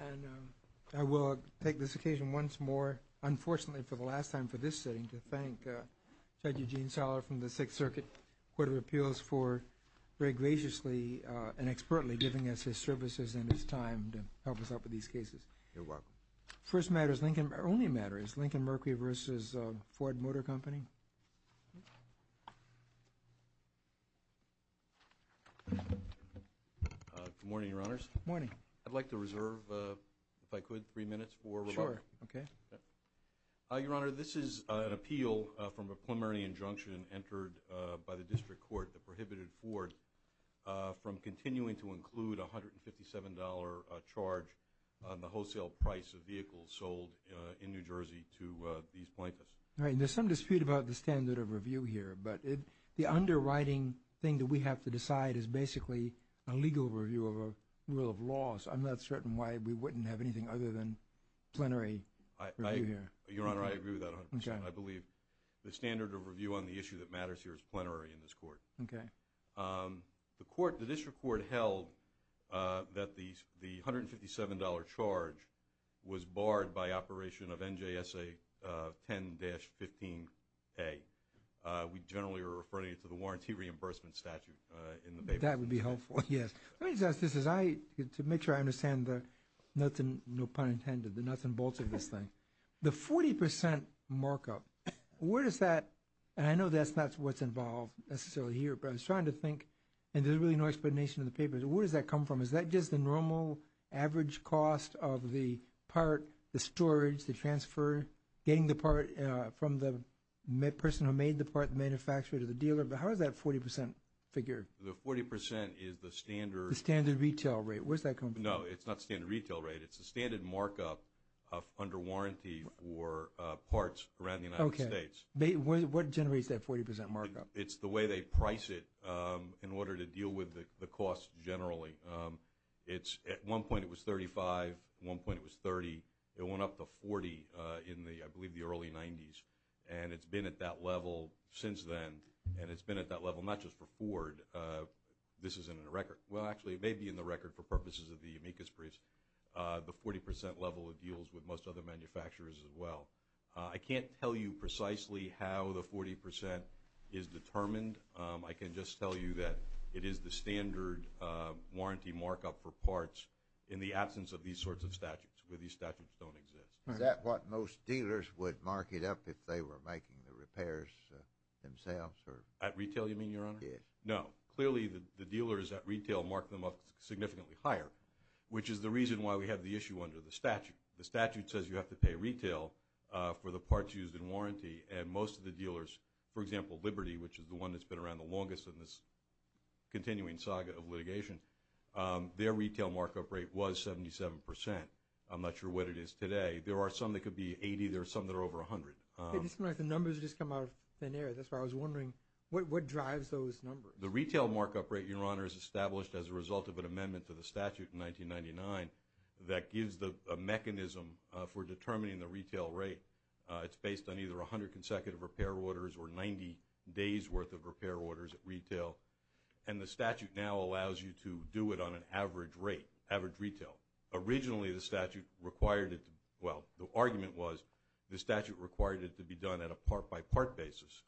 And I will take this occasion once more, unfortunately for the last time for this sitting, to thank Judge Eugene Saller from the Sixth Circuit Court of Appeals for very graciously and expertly giving us his services and his time to help us out with these cases. You're welcome. First matter is Lincoln, or only matter is Lincoln Mercury v. Ford Motor Company. Good morning, Your Honors. Morning. I'd like to reserve, if I could, three minutes for rebuttal. Sure, okay. Your Honor, this is an appeal from a preliminary injunction entered by the District Court that prohibited Ford from continuing to include a $157 charge on the wholesale price of vehicles sold in New Jersey to these plaintiffs. Right, and there's some dispute about the standard of review here, but the underwriting thing that we have to decide is basically a legal review of a rule of law, so I'm not certain why we wouldn't have anything other than plenary review here. Your Honor, I agree with that 100%. Okay. I believe the standard of review on the issue that matters here is plenary in this Court. Okay. The District Court held that the $157 charge was barred by operation of NJSA 10-15A. We generally are referring it to the warranty reimbursement statute. That would be helpful, yes. Let me just ask this, to make sure I understand the nuts and bolts of this thing. The 40% markup, where does that, and I know that's not what's involved necessarily here, but I was trying to think, and there's really no explanation in the papers, where does that come from? Is that just the normal average cost of the part, the storage, the transfer, getting the part from the person who made the part, the manufacturer to the dealer? But how is that 40% figure? The 40% is the standard. The standard retail rate. Where does that come from? No, it's not standard retail rate. It's the standard markup under warranty for parts around the United States. Okay. What generates that 40% markup? It's the way they price it in order to deal with the cost generally. At one point it was $35, at one point it was $30. It went up to $40 in, I believe, the early 90s, and it's been at that level since then, and it's been at that level not just for Ford. This isn't in the record. Well, actually, it may be in the record for purposes of the amicus briefs. The 40% level of deals with most other manufacturers as well. I can't tell you precisely how the 40% is determined. I can just tell you that it is the standard warranty markup for parts in the absence of these sorts of statutes where these statutes don't exist. Is that what most dealers would mark it up if they were making the repairs themselves? At retail you mean, Your Honor? Yes. No. Clearly, the dealers at retail mark them up significantly higher, which is the reason why we have the issue under the statute. The statute says you have to pay retail for the parts used in warranty, and most of the dealers, for example, Liberty, which is the one that's been around the longest in this continuing saga of litigation, their retail markup rate was 77%. I'm not sure what it is today. There are some that could be 80. There are some that are over 100. The numbers just come out of thin air. That's why I was wondering what drives those numbers. The retail markup rate, Your Honor, is established as a result of an amendment to the statute in 1999 that gives a mechanism for determining the retail rate. It's based on either 100 consecutive repair orders or 90 days' worth of repair orders at retail, and the statute now allows you to do it on an average rate, average retail. Originally the statute required it to – well, the argument was the statute required it to be done at a part-by-part basis,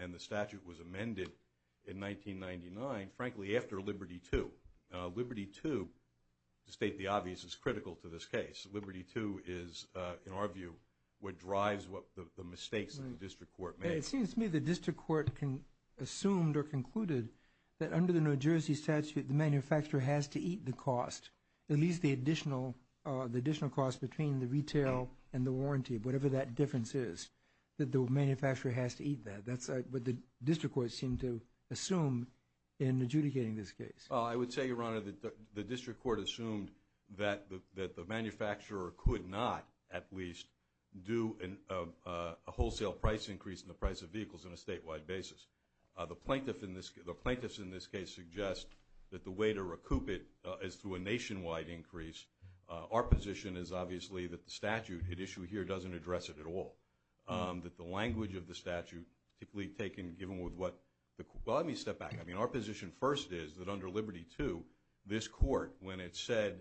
and the statute was amended in 1999, frankly, after Liberty II. Liberty II, to state the obvious, is critical to this case. Liberty II is, in our view, what drives the mistakes that the district court made. It seems to me the district court assumed or concluded that under the New Jersey statute the manufacturer has to eat the cost, at least the additional cost between the retail and the warranty, whatever that difference is, that the manufacturer has to eat that. That's what the district court seemed to assume in adjudicating this case. I would say, Your Honor, that the district court assumed that the manufacturer could not, at least, do a wholesale price increase in the price of vehicles on a statewide basis. The plaintiffs in this case suggest that the way to recoup it is through a nationwide increase. Our position is, obviously, that the statute at issue here doesn't address it at all, that the language of the statute, particularly given what the – well, let me step back. I mean, our position first is that under Liberty II, this court, when it said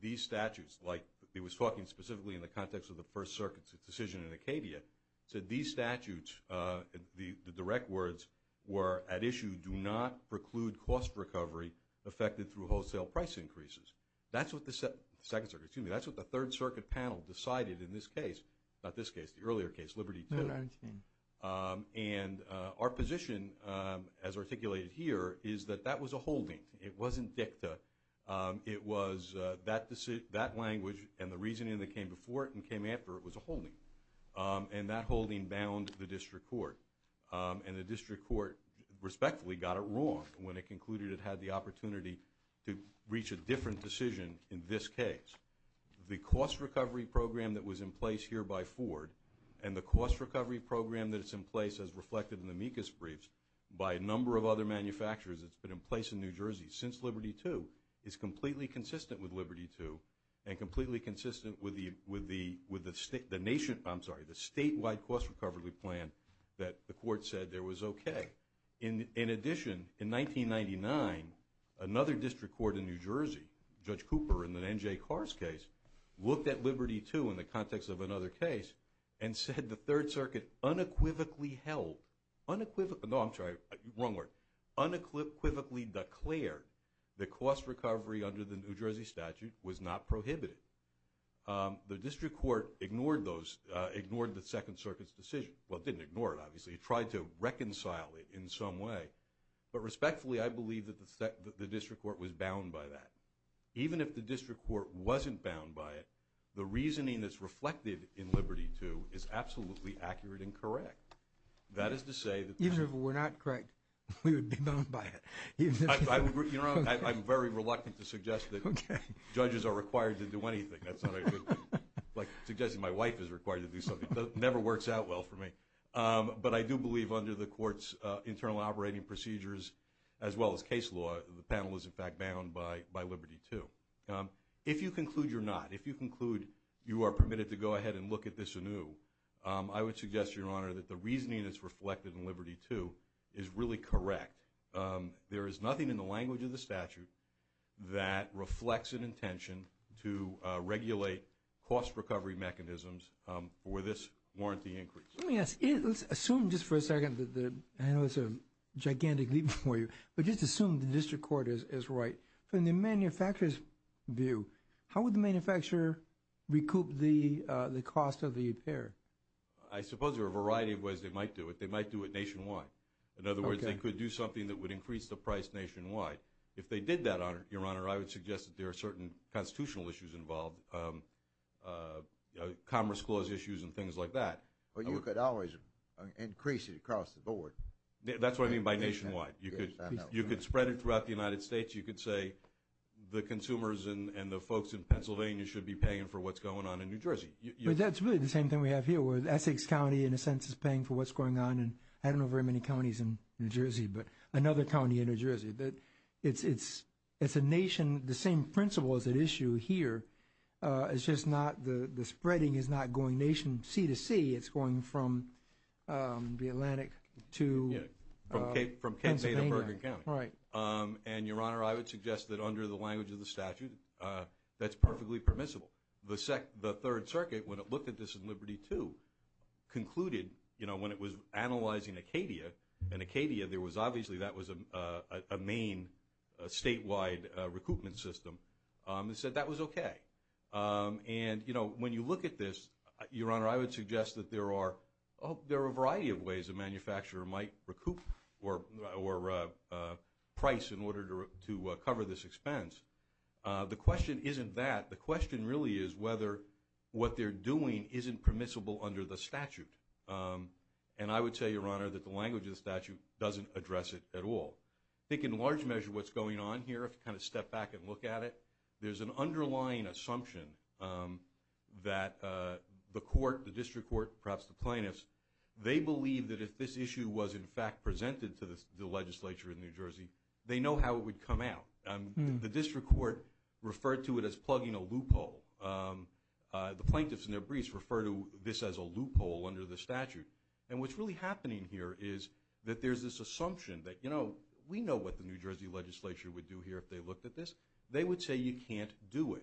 these statutes, like it was talking specifically in the context of the First Circuit's decision in Acadia, said these statutes, the direct words were, at issue, do not preclude cost recovery affected through wholesale price increases. That's what the Second Circuit – excuse me, that's what the Third Circuit panel decided in this case – not this case, the earlier case, Liberty II. And our position, as articulated here, is that that was a holding. It wasn't dicta. It was that language and the reasoning that came before it and came after it was a holding, and that holding bound the district court. And the district court, respectfully, got it wrong when it concluded it had the opportunity to reach a different decision in this case. The cost recovery program that was in place here by Ford and the cost recovery program that is in place as reflected in the MECAS briefs by a number of other manufacturers that's been in place in New Jersey since Liberty II is completely consistent with Liberty II and completely consistent with the nationwide – I'm sorry, the statewide cost recovery plan that the court said there was okay. In addition, in 1999, another district court in New Jersey, Judge Cooper in the N.J. Carr's case, looked at Liberty II in the context of another case and said the Third Circuit unequivocally held – no, I'm sorry, wrong word – unequivocally declared that cost recovery under the New Jersey statute was not prohibited. The district court ignored the Second Circuit's decision – well, it didn't ignore it, obviously. It tried to reconcile it in some way. But respectfully, I believe that the district court was bound by that. Even if the district court wasn't bound by it, the reasoning that's reflected in Liberty II is absolutely accurate and correct. That is to say that – Even if it were not correct, we would be bound by it. You know, I'm very reluctant to suggest that judges are required to do anything. That's not – like suggesting my wife is required to do something. That never works out well for me. But I do believe under the court's internal operating procedures, as well as case law, the panel is in fact bound by Liberty II. If you conclude you're not, if you conclude you are permitted to go ahead and look at this anew, I would suggest, Your Honor, that the reasoning that's reflected in Liberty II is really correct. There is nothing in the language of the statute that reflects an intention to regulate cost recovery mechanisms for this warranty increase. Let me ask – let's assume just for a second that the – I know it's a gigantic leap for you, but just assume the district court is right. From the manufacturer's view, how would the manufacturer recoup the cost of the repair? I suppose there are a variety of ways they might do it. They might do it nationwide. In other words, they could do something that would increase the price nationwide. If they did that, Your Honor, I would suggest that there are certain constitutional issues involved, commerce clause issues and things like that. But you could always increase it across the board. That's what I mean by nationwide. You could spread it throughout the United States. You could say the consumers and the folks in Pennsylvania should be paying for what's going on in New Jersey. But that's really the same thing we have here, where Essex County in a sense is paying for what's going on in I don't know very many counties in New Jersey, but another county in New Jersey. It's a nation – the same principle is at issue here. It's just not – the spreading is not going nation C to C. It's going from the Atlantic to Pennsylvania. From Cape – from Cape Bader, Bergen County. Right. And, Your Honor, I would suggest that under the language of the statute, that's perfectly permissible. The Third Circuit, when it looked at this in Liberty II, concluded, you know, when it was analyzing Acadia, in Acadia there was obviously that was a main statewide recoupment system. It said that was okay. And, you know, when you look at this, Your Honor, I would suggest that there are – there are a variety of ways a manufacturer might recoup or price in order to cover this expense. The question isn't that. The question really is whether what they're doing isn't permissible under the statute. And I would say, Your Honor, that the language of the statute doesn't address it at all. I think in large measure what's going on here, if you kind of step back and look at it, there's an underlying assumption that the court, the district court, perhaps the plaintiffs, they believe that if this issue was in fact presented to the legislature in New Jersey, they know how it would come out. The district court referred to it as plugging a loophole. The plaintiffs and their briefs refer to this as a loophole under the statute. And what's really happening here is that there's this assumption that, you know, we know what the New Jersey legislature would do here if they looked at this. They would say you can't do it.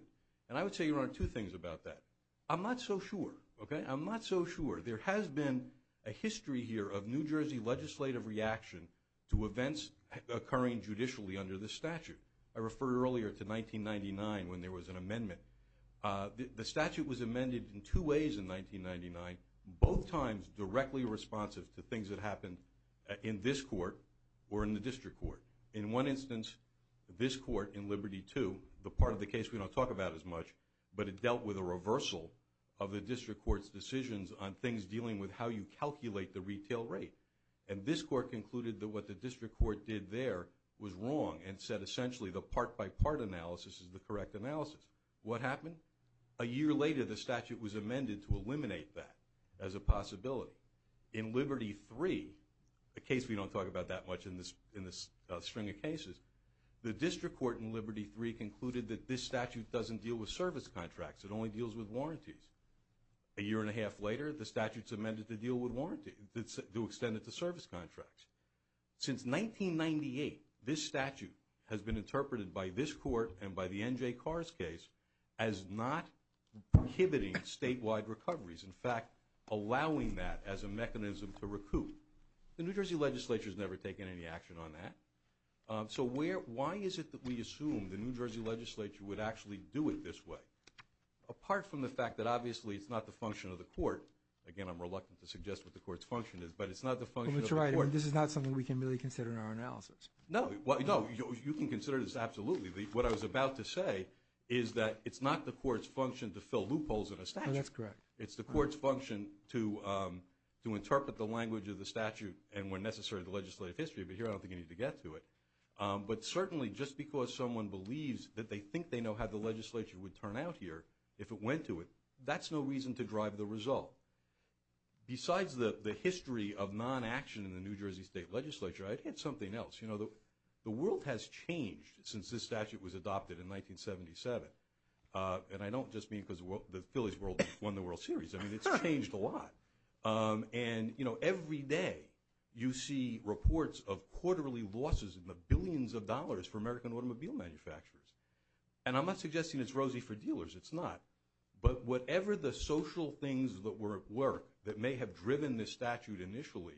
And I would say, Your Honor, two things about that. I'm not so sure. Okay? I'm not so sure. There has been a history here of New Jersey legislative reaction to events occurring judicially under the statute. I referred earlier to 1999 when there was an amendment. The statute was amended in two ways in 1999, both times directly responsive to things that happened in this court or in the district court. In one instance, this court in Liberty II, the part of the case we don't talk about as much, but it dealt with a reversal of the district court's decisions on things dealing with how you calculate the retail rate. And this court concluded that what the district court did there was wrong and said essentially the part-by-part analysis is the correct analysis. What happened? A year later, the statute was amended to eliminate that as a possibility. In Liberty III, a case we don't talk about that much in this string of cases, the district court in Liberty III concluded that this statute doesn't deal with service contracts. It only deals with warranties. A year and a half later, the statute's amended to deal with warranties, to extend it to service contracts. Since 1998, this statute has been interpreted by this court and by the N.J. Carr's case as not inhibiting statewide recoveries, in fact, allowing that as a mechanism to recoup. The New Jersey legislature has never taken any action on that. So why is it that we assume the New Jersey legislature would actually do it this way? Apart from the fact that obviously it's not the function of the court. Again, I'm reluctant to suggest what the court's function is, but it's not the function of the court. But you're right. This is not something we can really consider in our analysis. No. You can consider this absolutely. What I was about to say is that it's not the court's function to fill loopholes in a statute. That's correct. It's the court's function to interpret the language of the statute and, when necessary, the legislative history. But here I don't think you need to get to it. But certainly just because someone believes that they think they know how the legislature would turn out here if it went to it, that's no reason to drive the result. Besides the history of non-action in the New Jersey state legislature, I'd hit something else. The world has changed since this statute was adopted in 1977. And I don't just mean because the Phillies won the World Series. I mean it's changed a lot. And every day you see reports of quarterly losses in the billions of dollars for American automobile manufacturers. And I'm not suggesting it's rosy for dealers. It's not. But whatever the social things that may have driven this statute initially,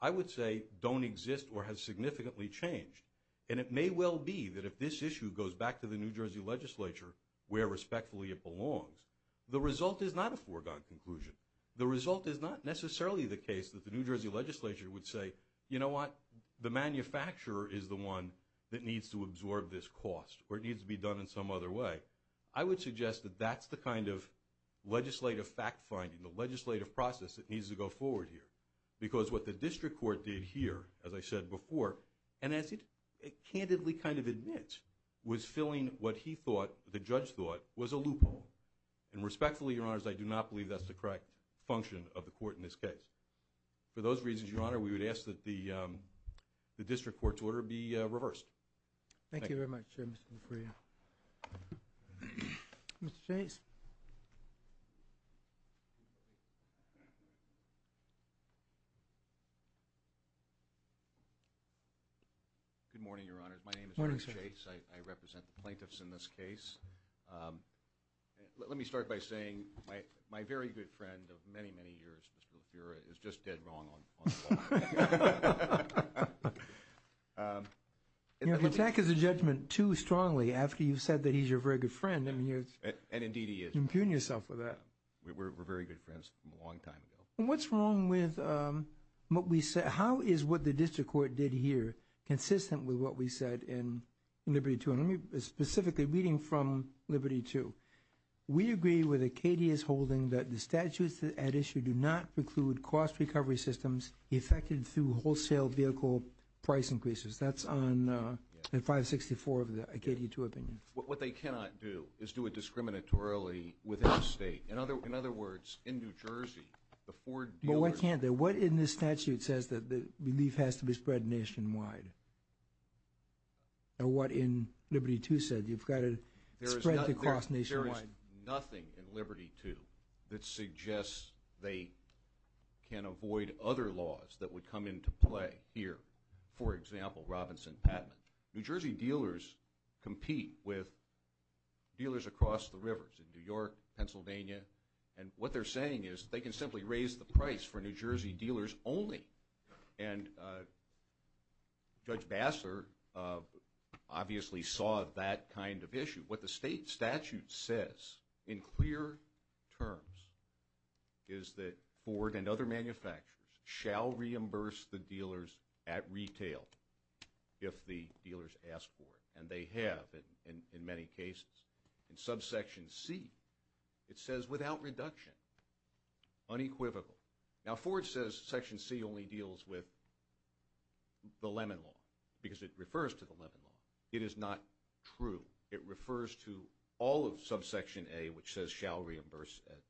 I would say don't exist or has significantly changed. And it may well be that if this issue goes back to the New Jersey legislature where respectfully it belongs, the result is not a foregone conclusion. The result is not necessarily the case that the New Jersey legislature would say, you know what, the manufacturer is the one that needs to absorb this cost or it needs to be done in some other way. I would suggest that that's the kind of legislative fact-finding, the legislative process that needs to go forward here. Because what the district court did here, as I said before, and as it candidly kind of admits, was filling what he thought, the judge thought, was a loophole. And respectfully, Your Honors, I do not believe that's the correct function of the court in this case. For those reasons, Your Honor, we would ask that the district court's order be reversed. Thank you very much, Mr. LaFrerie. Mr. Chase. Good morning, Your Honors. My name is Eric Chase. I represent the plaintiffs in this case. Let me start by saying my very good friend of many, many years, Mr. LaFerriere, is just dead wrong on the law. You know, the attack is a judgment too strongly after you've said that he's your very good friend. And indeed he is. You're impugning yourself with that. We're very good friends from a long time ago. What's wrong with what we said? How is what the district court did here consistent with what we said in Liberty 200? Specifically, reading from Liberty 2, we agree with Acadia's holding that the statutes at issue do not preclude cost recovery systems effected through wholesale vehicle price increases. That's on 564 of the Acadia 2 opinion. What they cannot do is do it discriminatorily within the state. In other words, in New Jersey, the Ford dealership. Well, why can't they? What in this statute says that belief has to be spread nationwide? And what in Liberty 2 said? You've got to spread the cost nationwide. There is nothing in Liberty 2 that suggests they can avoid other laws that would come into play here. For example, Robinson-Patman. New Jersey dealers compete with dealers across the rivers in New York, Pennsylvania. And what they're saying is they can simply raise the price for New Jersey dealers only. And Judge Bassler obviously saw that kind of issue. What the state statute says in clear terms is that Ford and other manufacturers shall reimburse the dealers at retail if the dealers ask for it. And they have in many cases. In subsection C, it says without reduction, unequivocal. Now, Ford says section C only deals with the Lemon Law because it refers to the Lemon Law. It is not true. It refers to all of subsection A, which says shall reimburse at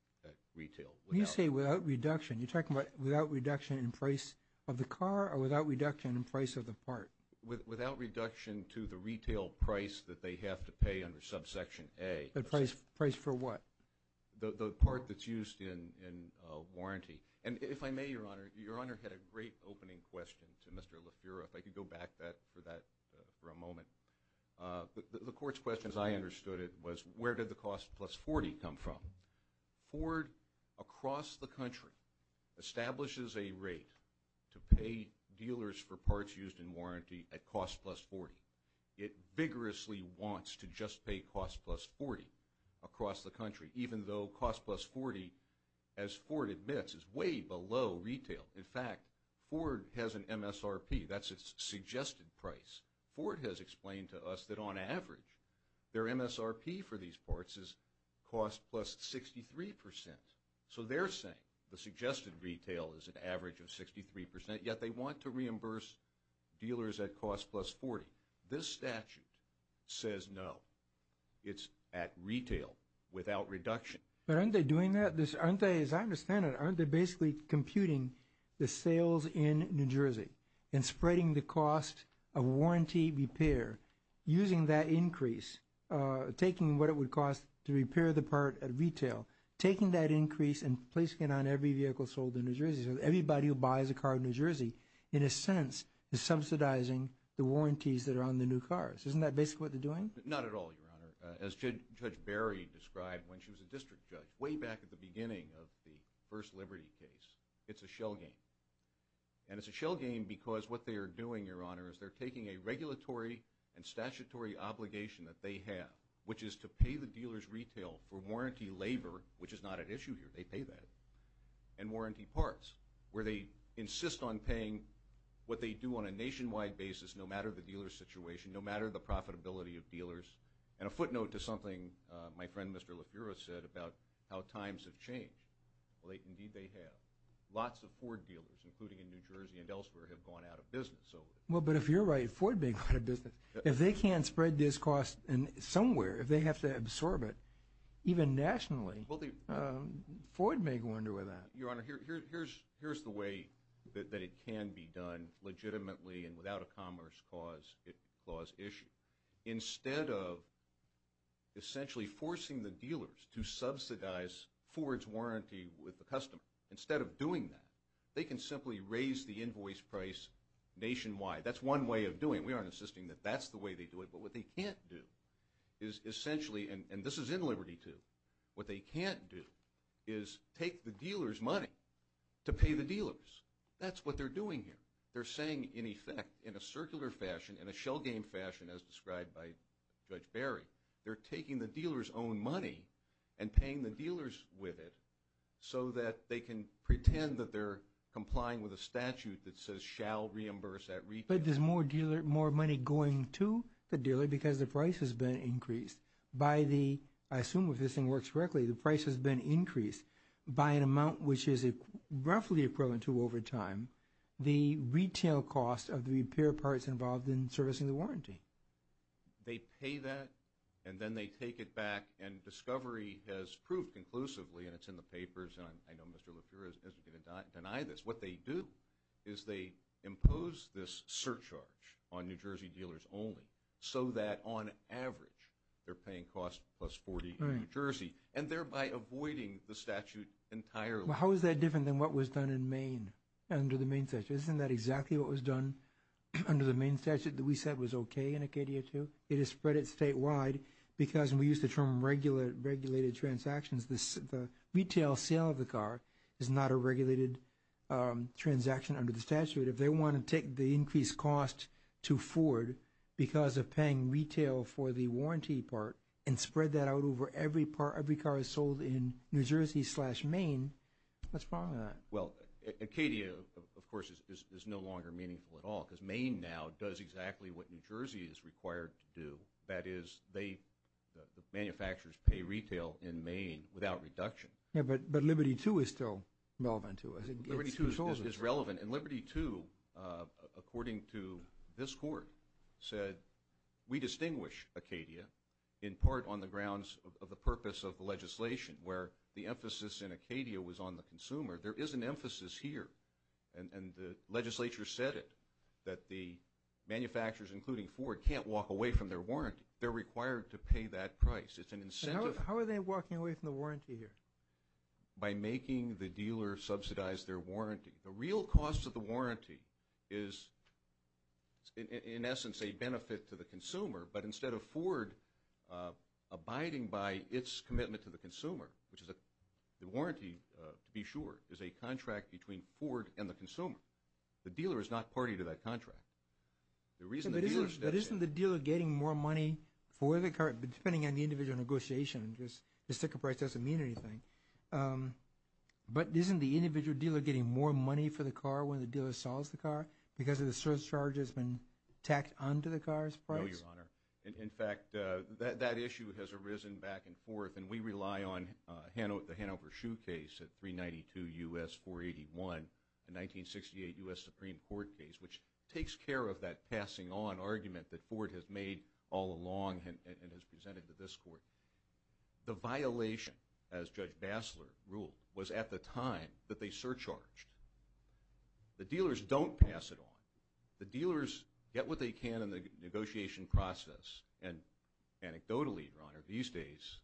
retail. When you say without reduction, you're talking about without reduction in price of the car or without reduction in price of the part? Without reduction to the retail price that they have to pay under subsection A. The price for what? The part that's used in warranty. And if I may, Your Honor, Your Honor had a great opening question to Mr. LeFour. If I could go back for that for a moment. The court's question, as I understood it, was where did the cost plus 40 come from? Ford across the country establishes a rate to pay dealers for parts used in warranty at cost plus 40. It vigorously wants to just pay cost plus 40 across the country, even though cost plus 40, as Ford admits, is way below retail. In fact, Ford has an MSRP. That's its suggested price. Ford has explained to us that on average their MSRP for these parts is cost plus 63%. So they're saying the suggested retail is an average of 63%, yet they want to reimburse dealers at cost plus 40. This statute says no. It's at retail without reduction. But aren't they doing that? Aren't they, as I understand it, aren't they basically computing the sales in New Jersey and spreading the cost of warranty repair using that increase, taking what it would cost to repair the part at retail, taking that increase and placing it on every vehicle sold in New Jersey, everybody who buys a car in New Jersey, in a sense, is subsidizing the warranties that are on the new cars. Isn't that basically what they're doing? Not at all, Your Honor. As Judge Barry described when she was a district judge, way back at the beginning of the first Liberty case, it's a shell game. And it's a shell game because what they are doing, Your Honor, is they're taking a regulatory and statutory obligation that they have, which is to pay the dealer's retail for warranty labor, which is not an issue here, they pay that, and warranty parts where they insist on paying what they do on a nationwide basis, no matter the dealer's situation, no matter the profitability of dealers. And a footnote to something my friend Mr. LaFura said about how times have changed. Well, indeed they have. Lots of Ford dealers, including in New Jersey and elsewhere, have gone out of business. Well, but if you're right, Ford being out of business, if they can't spread this cost somewhere, if they have to absorb it, even nationally. Ford may go under with that. Your Honor, here's the way that it can be done legitimately and without a commerce clause issue. Instead of essentially forcing the dealers to subsidize Ford's warranty with the customer, instead of doing that, they can simply raise the invoice price nationwide. That's one way of doing it. We aren't insisting that that's the way they do it. But what they can't do is essentially, and this is in Liberty too, what they can't do is take the dealer's money to pay the dealers. That's what they're doing here. They're saying, in effect, in a circular fashion, in a shell game fashion, as described by Judge Barry, they're taking the dealer's own money and paying the dealers with it so that they can pretend that they're complying with a statute that says shall reimburse at retail. But there's more money going to the dealer because the price has been increased by the, I assume if this thing works correctly, the price has been increased by an amount which is roughly equivalent to over time the retail cost of the repair parts involved in servicing the warranty. They pay that, and then they take it back, and discovery has proved conclusively, and it's in the papers, and I know Mr. LePure isn't going to deny this. What they do is they impose this surcharge on New Jersey dealers only so that on average they're paying costs plus 40 in New Jersey, and thereby avoiding the statute entirely. How is that different than what was done in Maine under the Maine statute? Isn't that exactly what was done under the Maine statute that we said was okay in Acadia II? It is spread statewide because, and we use the term regulated transactions, the retail sale of the car is not a regulated transaction under the statute. If they want to take the increased cost to Ford because of paying retail for the warranty part and spread that out over every car sold in New Jersey slash Maine, what's wrong with that? Acadia, of course, is no longer meaningful at all because Maine now does exactly what New Jersey is required to do. That is the manufacturers pay retail in Maine without reduction. But Liberty II is still relevant to us. Liberty II is relevant, and Liberty II, according to this court, said we distinguish Acadia in part on the grounds of the purpose of the legislation where the emphasis in Acadia was on the consumer. There is an emphasis here, and the legislature said it, that the manufacturers, including Ford, can't walk away from their warranty. They're required to pay that price. It's an incentive. How are they walking away from the warranty here? By making the dealer subsidize their warranty. The real cost of the warranty is, in essence, a benefit to the consumer, but instead of Ford abiding by its commitment to the consumer, which is the warranty, to be sure, is a contract between Ford and the consumer. The dealer is not party to that contract. But isn't the dealer getting more money for the car, depending on the individual negotiation, because the sticker price doesn't mean anything? But isn't the individual dealer getting more money for the car when the dealer sells the car because the surcharge has been tacked onto the car's price? No, Your Honor. In fact, that issue has arisen back and forth, and we rely on the Hanover Shoe case at 392 U.S. 481, the 1968 U.S. Supreme Court case, which takes care of that passing on argument that Ford has made all along and has presented to this court. The violation, as Judge Bassler ruled, was at the time that they surcharged. The dealers don't pass it on. The dealers get what they can in the negotiation process, and anecdotally, Your Honor, these days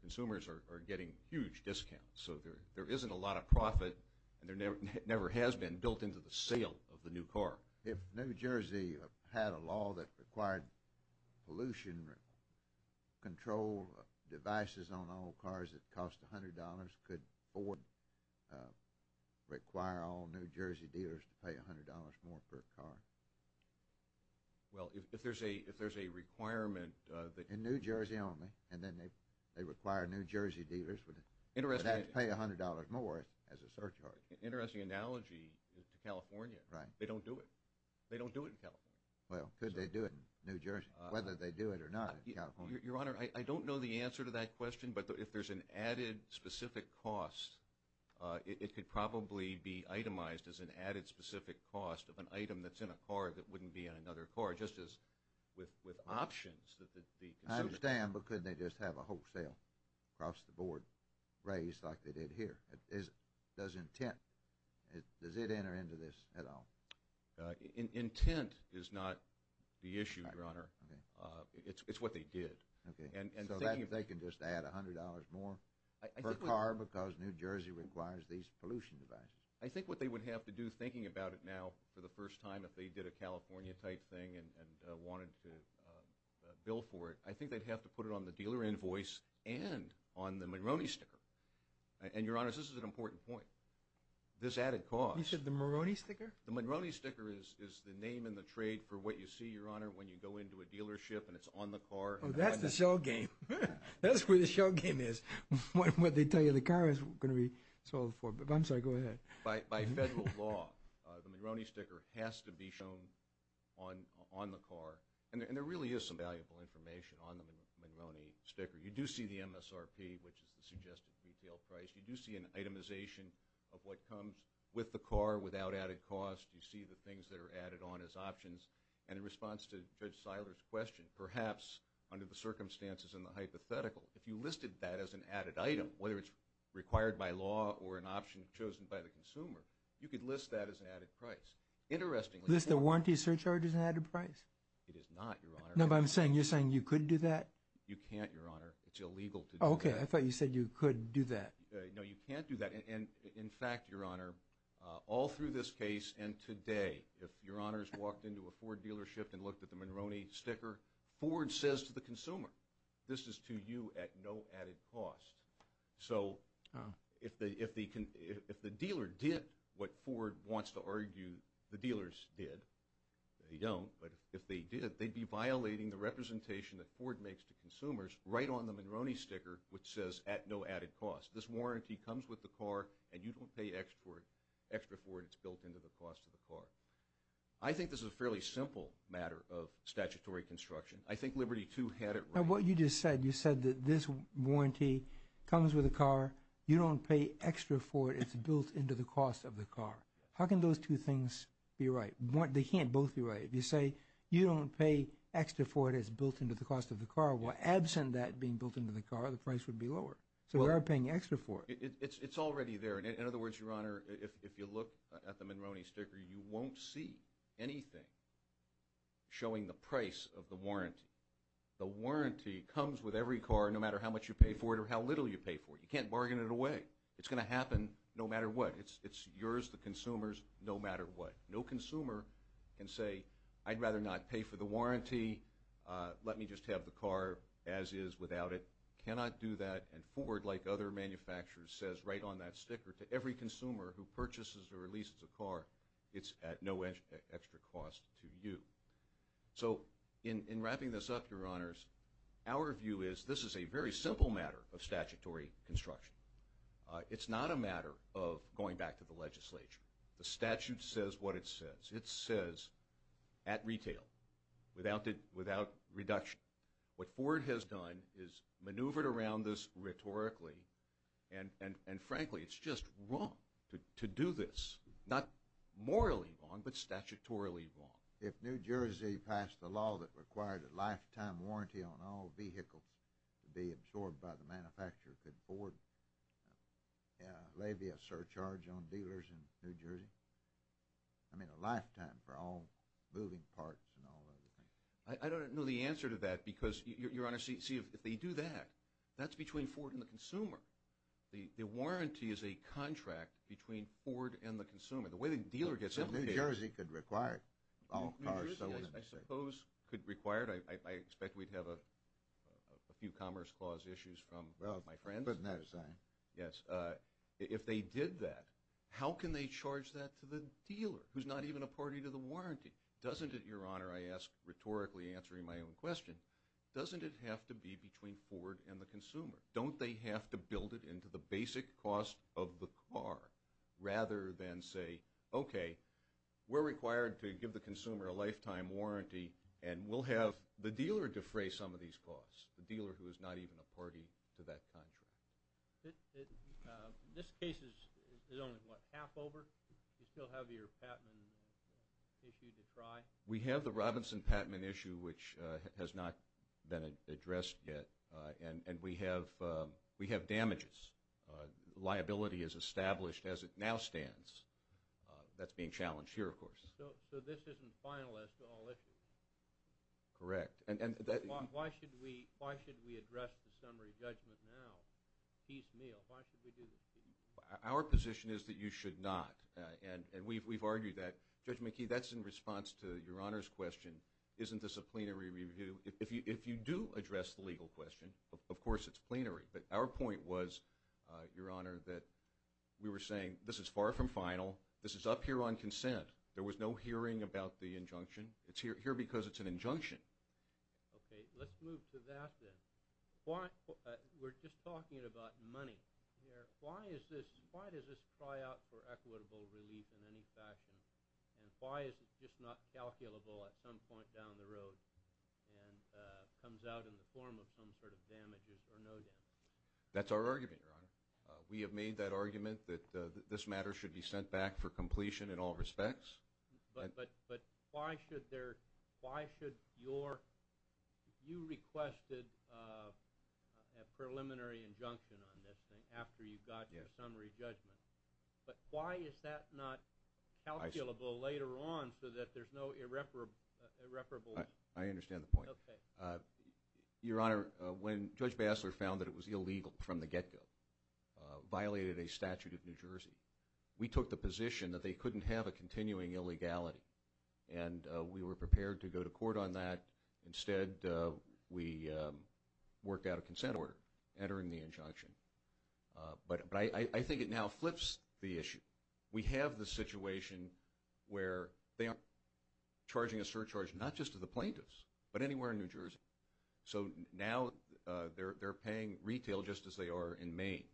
consumers are getting huge discounts, so there isn't a lot of profit, and there never has been, built into the sale of the new car. If New Jersey had a law that required pollution control devices on all cars that cost $100, could Ford require all New Jersey dealers to pay $100 more per car? Well, if there's a requirement that— In New Jersey only, and then they require New Jersey dealers. That's pay $100 more as a surcharge. Interesting analogy to California. Right. They don't do it. They don't do it in California. Well, could they do it in New Jersey, whether they do it or not in California? Your Honor, I don't know the answer to that question, but if there's an added specific cost, it could probably be itemized as an added specific cost of an item that's in a car that wouldn't be in another car, just as with options that the consumer— raised like they did here. Does intent—does it enter into this at all? Intent is not the issue, Your Honor. It's what they did. So they can just add $100 more per car because New Jersey requires these pollution devices. I think what they would have to do, thinking about it now for the first time, if they did a California-type thing and wanted to bill for it, I think they'd have to put it on the dealer invoice and on the Moroni sticker. And, Your Honor, this is an important point. This added cost— You said the Moroni sticker? The Moroni sticker is the name in the trade for what you see, Your Honor, when you go into a dealership and it's on the car. Oh, that's the show game. That's where the show game is, what they tell you the car is going to be sold for. I'm sorry, go ahead. By federal law, the Moroni sticker has to be shown on the car. And there really is some valuable information on the Moroni sticker. You do see the MSRP, which is the suggested retail price. You do see an itemization of what comes with the car without added cost. You see the things that are added on as options. And in response to Judge Seiler's question, perhaps under the circumstances and the hypothetical, if you listed that as an added item, whether it's required by law or an option chosen by the consumer, you could list that as an added price. Interestingly, List the warranty surcharges as an added price? It is not, Your Honor. No, but I'm saying, you're saying you could do that? You can't, Your Honor. It's illegal to do that. Okay, I thought you said you could do that. No, you can't do that. And, in fact, Your Honor, all through this case and today, if Your Honors walked into a Ford dealership and looked at the Moroni sticker, Ford says to the consumer, this is to you at no added cost. So if the dealer did what Ford wants to argue the dealers did, they don't, but if they did, they'd be violating the representation that Ford makes to consumers right on the Moroni sticker, which says at no added cost. This warranty comes with the car, and you don't pay extra for it. It's built into the cost of the car. I think this is a fairly simple matter of statutory construction. I think Liberty II had it right. Your Honor, what you just said, you said that this warranty comes with the car. You don't pay extra for it. It's built into the cost of the car. How can those two things be right? They can't both be right. If you say you don't pay extra for it, it's built into the cost of the car, well, absent that being built into the car, the price would be lower. So they're not paying extra for it. It's already there. In other words, Your Honor, if you look at the Moroni sticker, you won't see anything showing the price of the warranty. The warranty comes with every car, no matter how much you pay for it or how little you pay for it. You can't bargain it away. It's going to happen no matter what. It's yours to consumers no matter what. No consumer can say, I'd rather not pay for the warranty. Let me just have the car as is without it. Cannot do that, and Ford, like other manufacturers, says right on that sticker to every consumer who purchases or releases a car, it's at no extra cost to you. So in wrapping this up, Your Honors, our view is this is a very simple matter of statutory construction. It's not a matter of going back to the legislature. The statute says what it says. It says at retail, without reduction. What Ford has done is maneuvered around this rhetorically, and frankly, it's just wrong to do this. Not morally wrong, but statutorily wrong. If New Jersey passed a law that required a lifetime warranty on all vehicles to be absorbed by the manufacturer, could Ford lay a surcharge on dealers in New Jersey? I mean a lifetime for all moving parts and all those things. I don't know the answer to that because, Your Honor, see, if they do that, that's between Ford and the consumer. The warranty is a contract between Ford and the consumer. The way the dealer gets implicated. Well, New Jersey could require it. New Jersey, I suppose, could require it. I expect we'd have a few Commerce Clause issues from my friends. Yes. If they did that, how can they charge that to the dealer who's not even a party to the warranty? Doesn't it, Your Honor, I ask rhetorically answering my own question, doesn't it have to be between Ford and the consumer? Don't they have to build it into the basic cost of the car rather than say, okay, we're required to give the consumer a lifetime warranty and we'll have the dealer defray some of these costs, the dealer who is not even a party to that contract. This case is only, what, half over? Do you still have your Patman issue to try? We have the Robinson-Patman issue, which has not been addressed yet, and we have damages. Liability is established as it now stands. That's being challenged here, of course. So this isn't finalized to all issues? Correct. Why should we address the summary judgment now, piecemeal? Why should we do that? Our position is that you should not, and we've argued that. Judge McKee, that's in response to Your Honor's question, isn't this a plenary review? If you do address the legal question, of course it's plenary, but our point was, Your Honor, that we were saying this is far from final. This is up here on consent. There was no hearing about the injunction. It's here because it's an injunction. Okay. Let's move to that then. We're just talking about money here. Why does this pry out for equitable relief in any fashion, and why is it just not calculable at some point down the road and comes out in the form of some sort of damages or no damages? That's our argument, Your Honor. We have made that argument that this matter should be sent back for completion in all respects. But why should your – you requested a preliminary injunction on this thing after you got your summary judgment, but why is that not calculable later on so that there's no irreparable – I understand the point. Okay. Your Honor, when Judge Bassler found that it was illegal from the get-go, violated a statute of New Jersey, we took the position that they couldn't have a continuing illegality, and we were prepared to go to court on that. Instead, we worked out a consent order entering the injunction. But I think it now flips the issue. We have the situation where they are charging a surcharge not just to the plaintiffs, but anywhere in New Jersey. So now they're paying retail just as they are in Maine.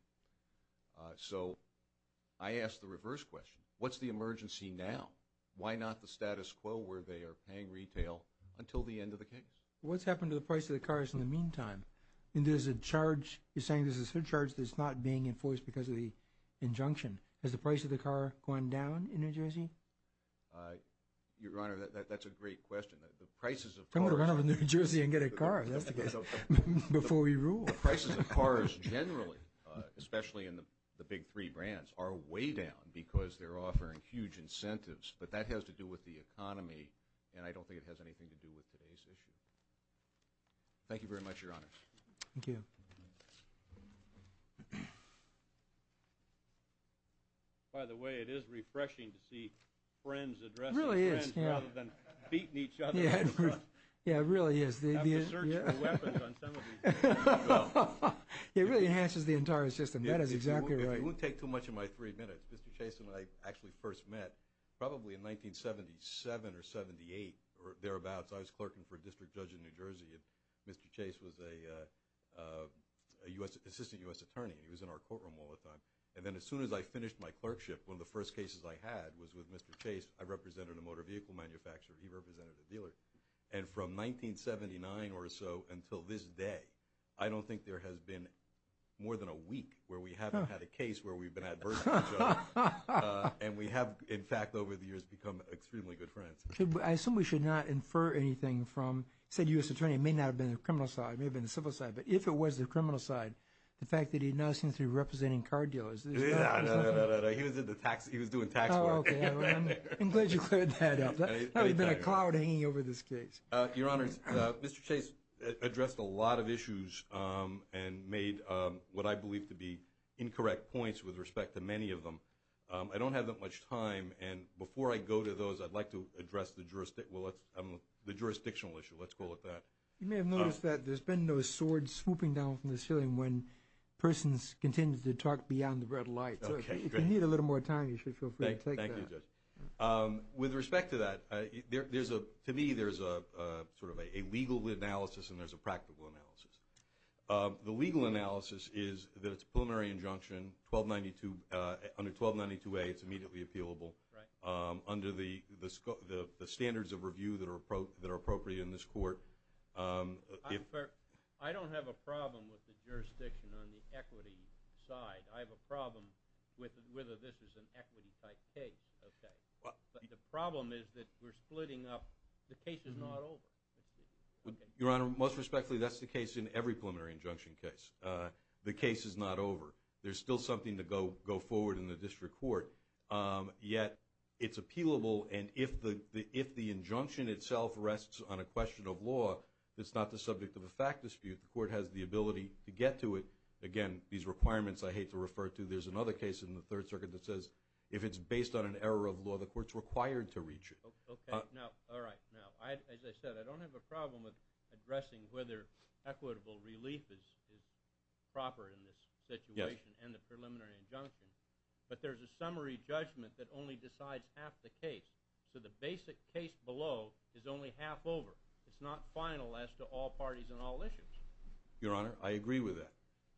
So I ask the reverse question. What's the emergency now? Why not the status quo where they are paying retail until the end of the case? What's happened to the price of the cars in the meantime? And there's a charge. You're saying there's a surcharge that's not being enforced because of the injunction. Has the price of the car gone down in New Jersey? Your Honor, that's a great question. The prices of cars— Come on over to New Jersey and get a car. That's the case. Before we rule. The prices of cars generally, especially in the big three brands, are way down because they're offering huge incentives. But that has to do with the economy, and I don't think it has anything to do with today's issue. Thank you very much, Your Honor. Thank you. By the way, it is refreshing to see friends addressing friends rather than beating each other. Yeah, it really is. You have to search for weapons on some of these. It really enhances the entire system. That is exactly right. If you won't take too much of my three minutes, Mr. Chase and I actually first met probably in 1977 or 78 or thereabouts. I was clerking for a district judge in New Jersey, and Mr. Chase was an assistant U.S. attorney, and he was in our courtroom all the time. And then as soon as I finished my clerkship, one of the first cases I had was with Mr. Chase. I represented a motor vehicle manufacturer. He represented a dealer. And from 1979 or so until this day, I don't think there has been more than a week where we haven't had a case where we've been at versus each other. And we have, in fact, over the years become extremely good friends. I assume we should not infer anything from said U.S. attorney. It may not have been the criminal side. It may have been the civil side. But if it was the criminal side, the fact that he now seems to be representing car dealers. No, no, no. He was doing tax work. I'm glad you cleared that up. That would have been a cloud hanging over this case. Your Honors, Mr. Chase addressed a lot of issues and made what I believe to be incorrect points with respect to many of them. I don't have that much time, and before I go to those I'd like to address the jurisdictional issue. Let's call it that. You may have noticed that there's been those swords swooping down from the ceiling when persons continue to talk beyond the red light. So if you need a little more time, you should feel free to take that. Thank you, Judge. With respect to that, to me there's sort of a legal analysis and there's a practical analysis. The legal analysis is that it's a preliminary injunction under 1292A. It's immediately appealable under the standards of review that are appropriate in this court. I don't have a problem with the jurisdiction on the equity side. I have a problem with whether this is an equity-type case. But the problem is that we're splitting up. The case is not over. Your Honor, most respectfully, that's the case in every preliminary injunction case. The case is not over. There's still something to go forward in the district court, yet it's appealable. And if the injunction itself rests on a question of law that's not the subject of a fact dispute, the court has the ability to get to it. Again, these requirements I hate to refer to. There's another case in the Third Circuit that says if it's based on an error of law, the court's required to reach it. Okay. Now, all right. Now, as I said, I don't have a problem with addressing whether equitable relief is proper in this situation. Yes. And the preliminary injunction. But there's a summary judgment that only decides half the case. So the basic case below is only half over. It's not final as to all parties and all issues. Your Honor, I agree with that.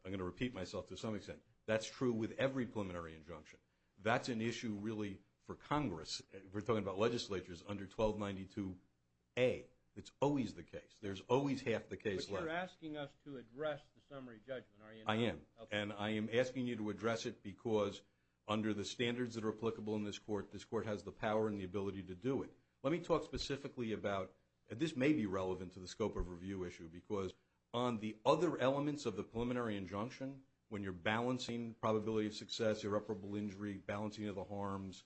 I'm going to repeat myself to some extent. That's true with every preliminary injunction. That's an issue really for Congress. We're talking about legislatures under 1292A. It's always the case. There's always half the case left. But you're asking us to address the summary judgment, are you? I am. And I am asking you to address it because under the standards that are applicable in this court, this court has the power and the ability to do it. Let me talk specifically about this may be relevant to the scope of review issue because on the other elements of the preliminary injunction, when you're balancing probability of success, irreparable injury, balancing of the harms,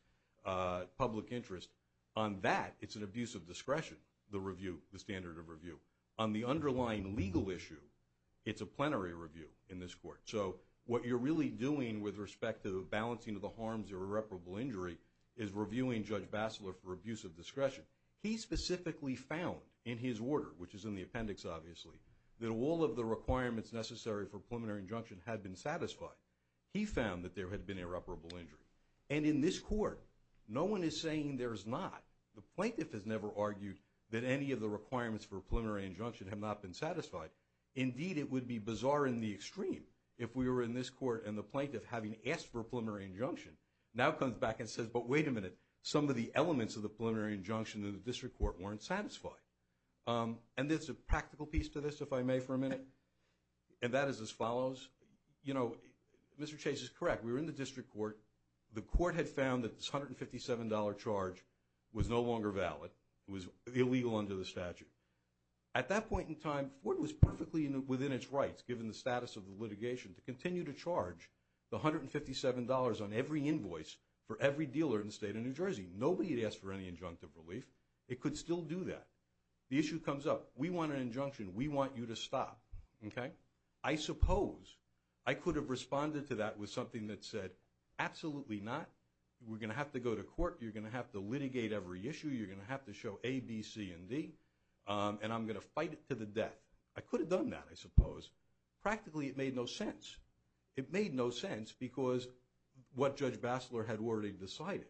public interest, on that it's an abuse of discretion, the review, the standard of review. On the underlying legal issue, it's a plenary review in this court. So what you're really doing with respect to balancing of the harms or irreparable injury is reviewing Judge Bassler for abuse of discretion. He specifically found in his order, which is in the appendix obviously, that all of the requirements necessary for preliminary injunction had been satisfied. He found that there had been irreparable injury. And in this court, no one is saying there's not. The plaintiff has never argued that any of the requirements for a preliminary injunction have not been satisfied. Indeed, it would be bizarre in the extreme if we were in this court and the plaintiff having asked for a preliminary injunction now comes back and says, but wait a minute, some of the elements of the preliminary injunction in the district court weren't satisfied. And there's a practical piece to this, if I may, for a minute, and that is as follows. You know, Mr. Chase is correct. We were in the district court. The court had found that this $157 charge was no longer valid. It was illegal under the statute. At that point in time, Ford was perfectly within its rights, given the status of the litigation, to continue to charge the $157 on every invoice for every dealer in the state of New Jersey. Nobody had asked for any injunctive relief. It could still do that. The issue comes up. We want an injunction. We want you to stop. Okay? I suppose I could have responded to that with something that said, absolutely not. We're going to have to go to court. You're going to have to litigate every issue. You're going to have to show A, B, C, and D, and I'm going to fight it to the death. I could have done that, I suppose. Practically, it made no sense. It made no sense because what Judge Bassler had already decided.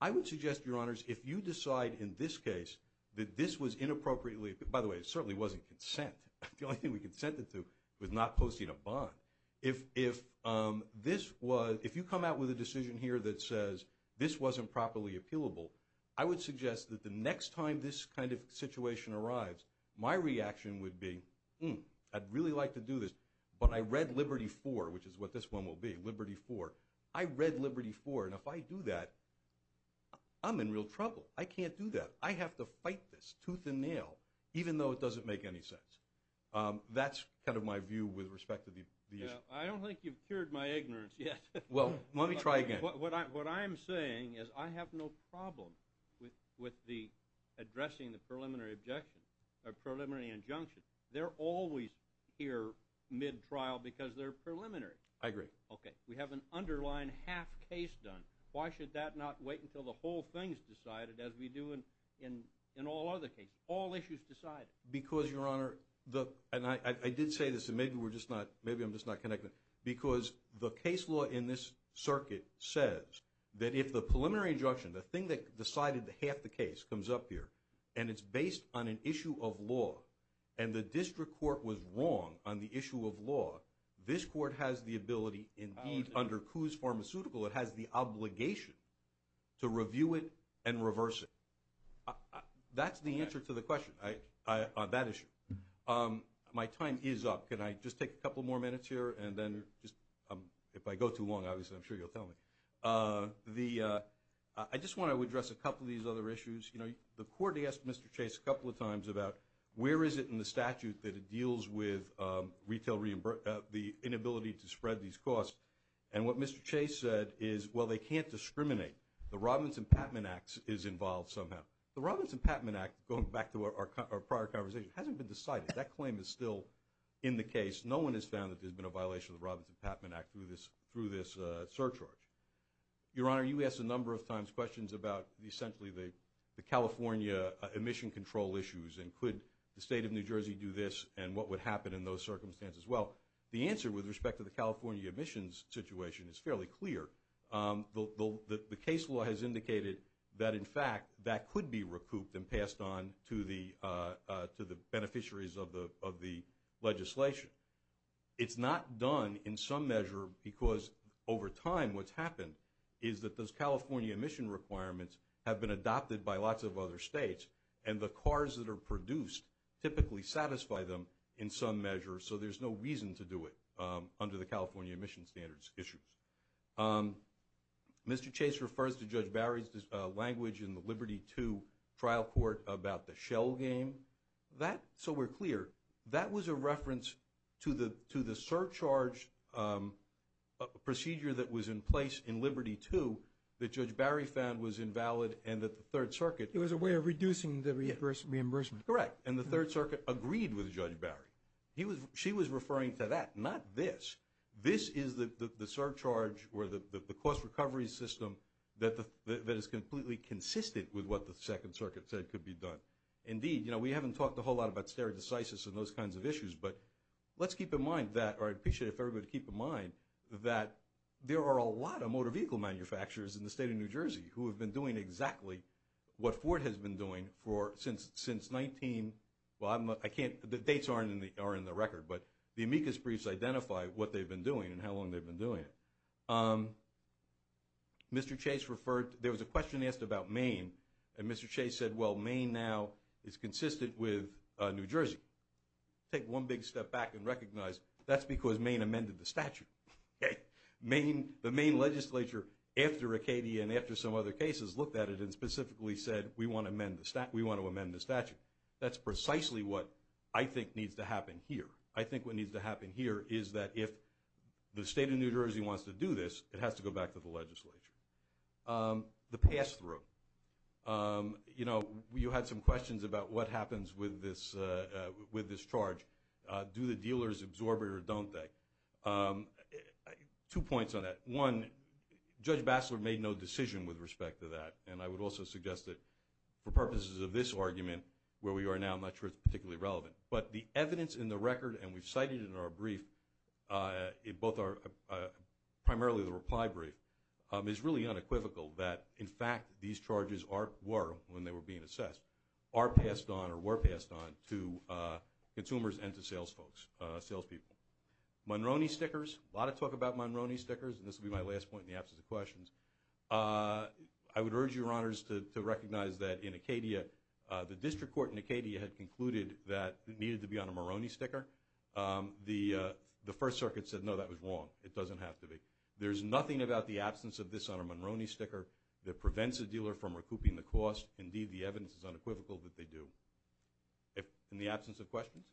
I would suggest, Your Honors, if you decide in this case that this was inappropriately, by the way, it certainly wasn't consent. The only thing we consented to was not posting a bond. If you come out with a decision here that says this wasn't properly appealable, I would suggest that the next time this kind of situation arrives, my reaction would be, hmm, I'd really like to do this, but I read Liberty 4, which is what this one will be, Liberty 4. I read Liberty 4, and if I do that, I'm in real trouble. I can't do that. I have to fight this tooth and nail, even though it doesn't make any sense. That's kind of my view with respect to the issue. I don't think you've cured my ignorance yet. Well, let me try again. What I'm saying is I have no problem with addressing the preliminary injunction. They're always here mid-trial because they're preliminary. I agree. Okay, we have an underlying half case done. Why should that not wait until the whole thing is decided, as we do in all other cases? All issues decided. Because, Your Honor, and I did say this, and maybe I'm just not connected, because the case law in this circuit says that if the preliminary injunction, the thing that decided half the case comes up here, and it's based on an issue of law, and the district court was wrong on the issue of law, this court has the ability, indeed, under Coos Pharmaceutical, it has the obligation to review it and reverse it. That's the answer to the question on that issue. My time is up. Can I just take a couple more minutes here? And then if I go too long, obviously, I'm sure you'll tell me. I just want to address a couple of these other issues. You know, the court asked Mr. Chase a couple of times about where is it in the statute that it deals with the inability to spread these costs. And what Mr. Chase said is, well, they can't discriminate. The Robinson-Patman Act is involved somehow. The Robinson-Patman Act, going back to our prior conversation, hasn't been decided. That claim is still in the case. No one has found that there's been a violation of the Robinson-Patman Act through this surcharge. Your Honor, you asked a number of times questions about essentially the California emission control issues and could the State of New Jersey do this and what would happen in those circumstances. Well, the answer with respect to the California emissions situation is fairly clear. The case law has indicated that, in fact, that could be recouped and passed on to the beneficiaries of the legislation. It's not done in some measure because over time what's happened is that those California emission requirements have been adopted by lots of other states and the cars that are produced typically satisfy them in some measure. So there's no reason to do it under the California emission standards issues. Mr. Chase refers to Judge Barry's language in the Liberty II trial court about the shell game. That, so we're clear, that was a reference to the surcharge procedure that was in place in Liberty II that Judge Barry found was invalid and that the Third Circuit. It was a way of reducing the reimbursement. Correct, and the Third Circuit agreed with Judge Barry. She was referring to that, not this. This is the surcharge or the cost recovery system that is completely consistent with what the Second Circuit said could be done. Indeed, you know, we haven't talked a whole lot about stare decisis and those kinds of issues, but let's keep in mind that, or I'd appreciate it if everybody would keep in mind, that there are a lot of motor vehicle manufacturers in the state of New Jersey who have been doing exactly what Ford has been doing since 19, well, I can't, the dates aren't in the record, but the amicus briefs identify what they've been doing and how long they've been doing it. Mr. Chase referred, there was a question asked about Maine, and Mr. Chase said, well, Maine now is consistent with New Jersey. Take one big step back and recognize that's because Maine amended the statute. The Maine legislature, after Acadia and after some other cases, looked at it and specifically said, we want to amend the statute. That's precisely what I think needs to happen here. I think what needs to happen here is that if the state of New Jersey wants to do this, it has to go back to the legislature. The pass-through. You know, you had some questions about what happens with this charge. Do the dealers absorb it or don't they? Two points on that. One, Judge Bassler made no decision with respect to that, and I would also suggest that for purposes of this argument, where we are now, I'm not sure it's particularly relevant. But the evidence in the record, and we've cited it in our brief, primarily the reply brief, is really unequivocal that, in fact, these charges were, when they were being assessed, are passed on or were passed on to consumers and to salespeople. Monroney stickers. A lot of talk about Monroney stickers, and this will be my last point in the absence of questions. I would urge your honors to recognize that in Acadia, the district court in Acadia had concluded that it needed to be on a Monroney sticker. The First Circuit said, no, that was wrong. It doesn't have to be. There's nothing about the absence of this on a Monroney sticker that prevents a dealer from recouping the cost. Indeed, the evidence is unequivocal that they do. In the absence of questions?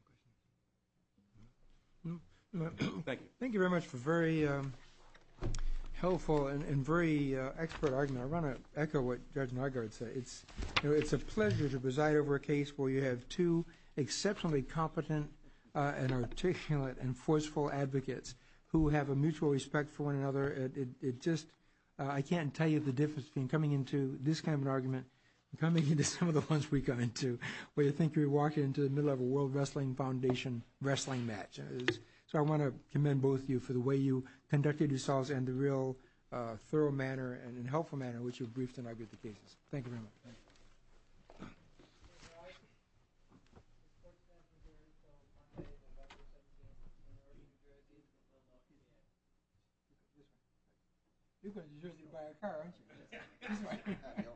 Thank you. Thank you very much for a very helpful and very expert argument. I want to echo what Judge Naggard said. It's a pleasure to preside over a case where you have two exceptionally competent and articulate and forceful advocates who have a mutual respect for one another. It just, I can't tell you the difference between coming into this kind of an argument and coming into some of the ones we got into, where you think you're walking into the middle of a World Wrestling Foundation wrestling match. So I want to commend both of you for the way you conducted yourselves and the real thorough manner and helpful manner in which you've briefed and argued the cases. Thank you very much. Thank you.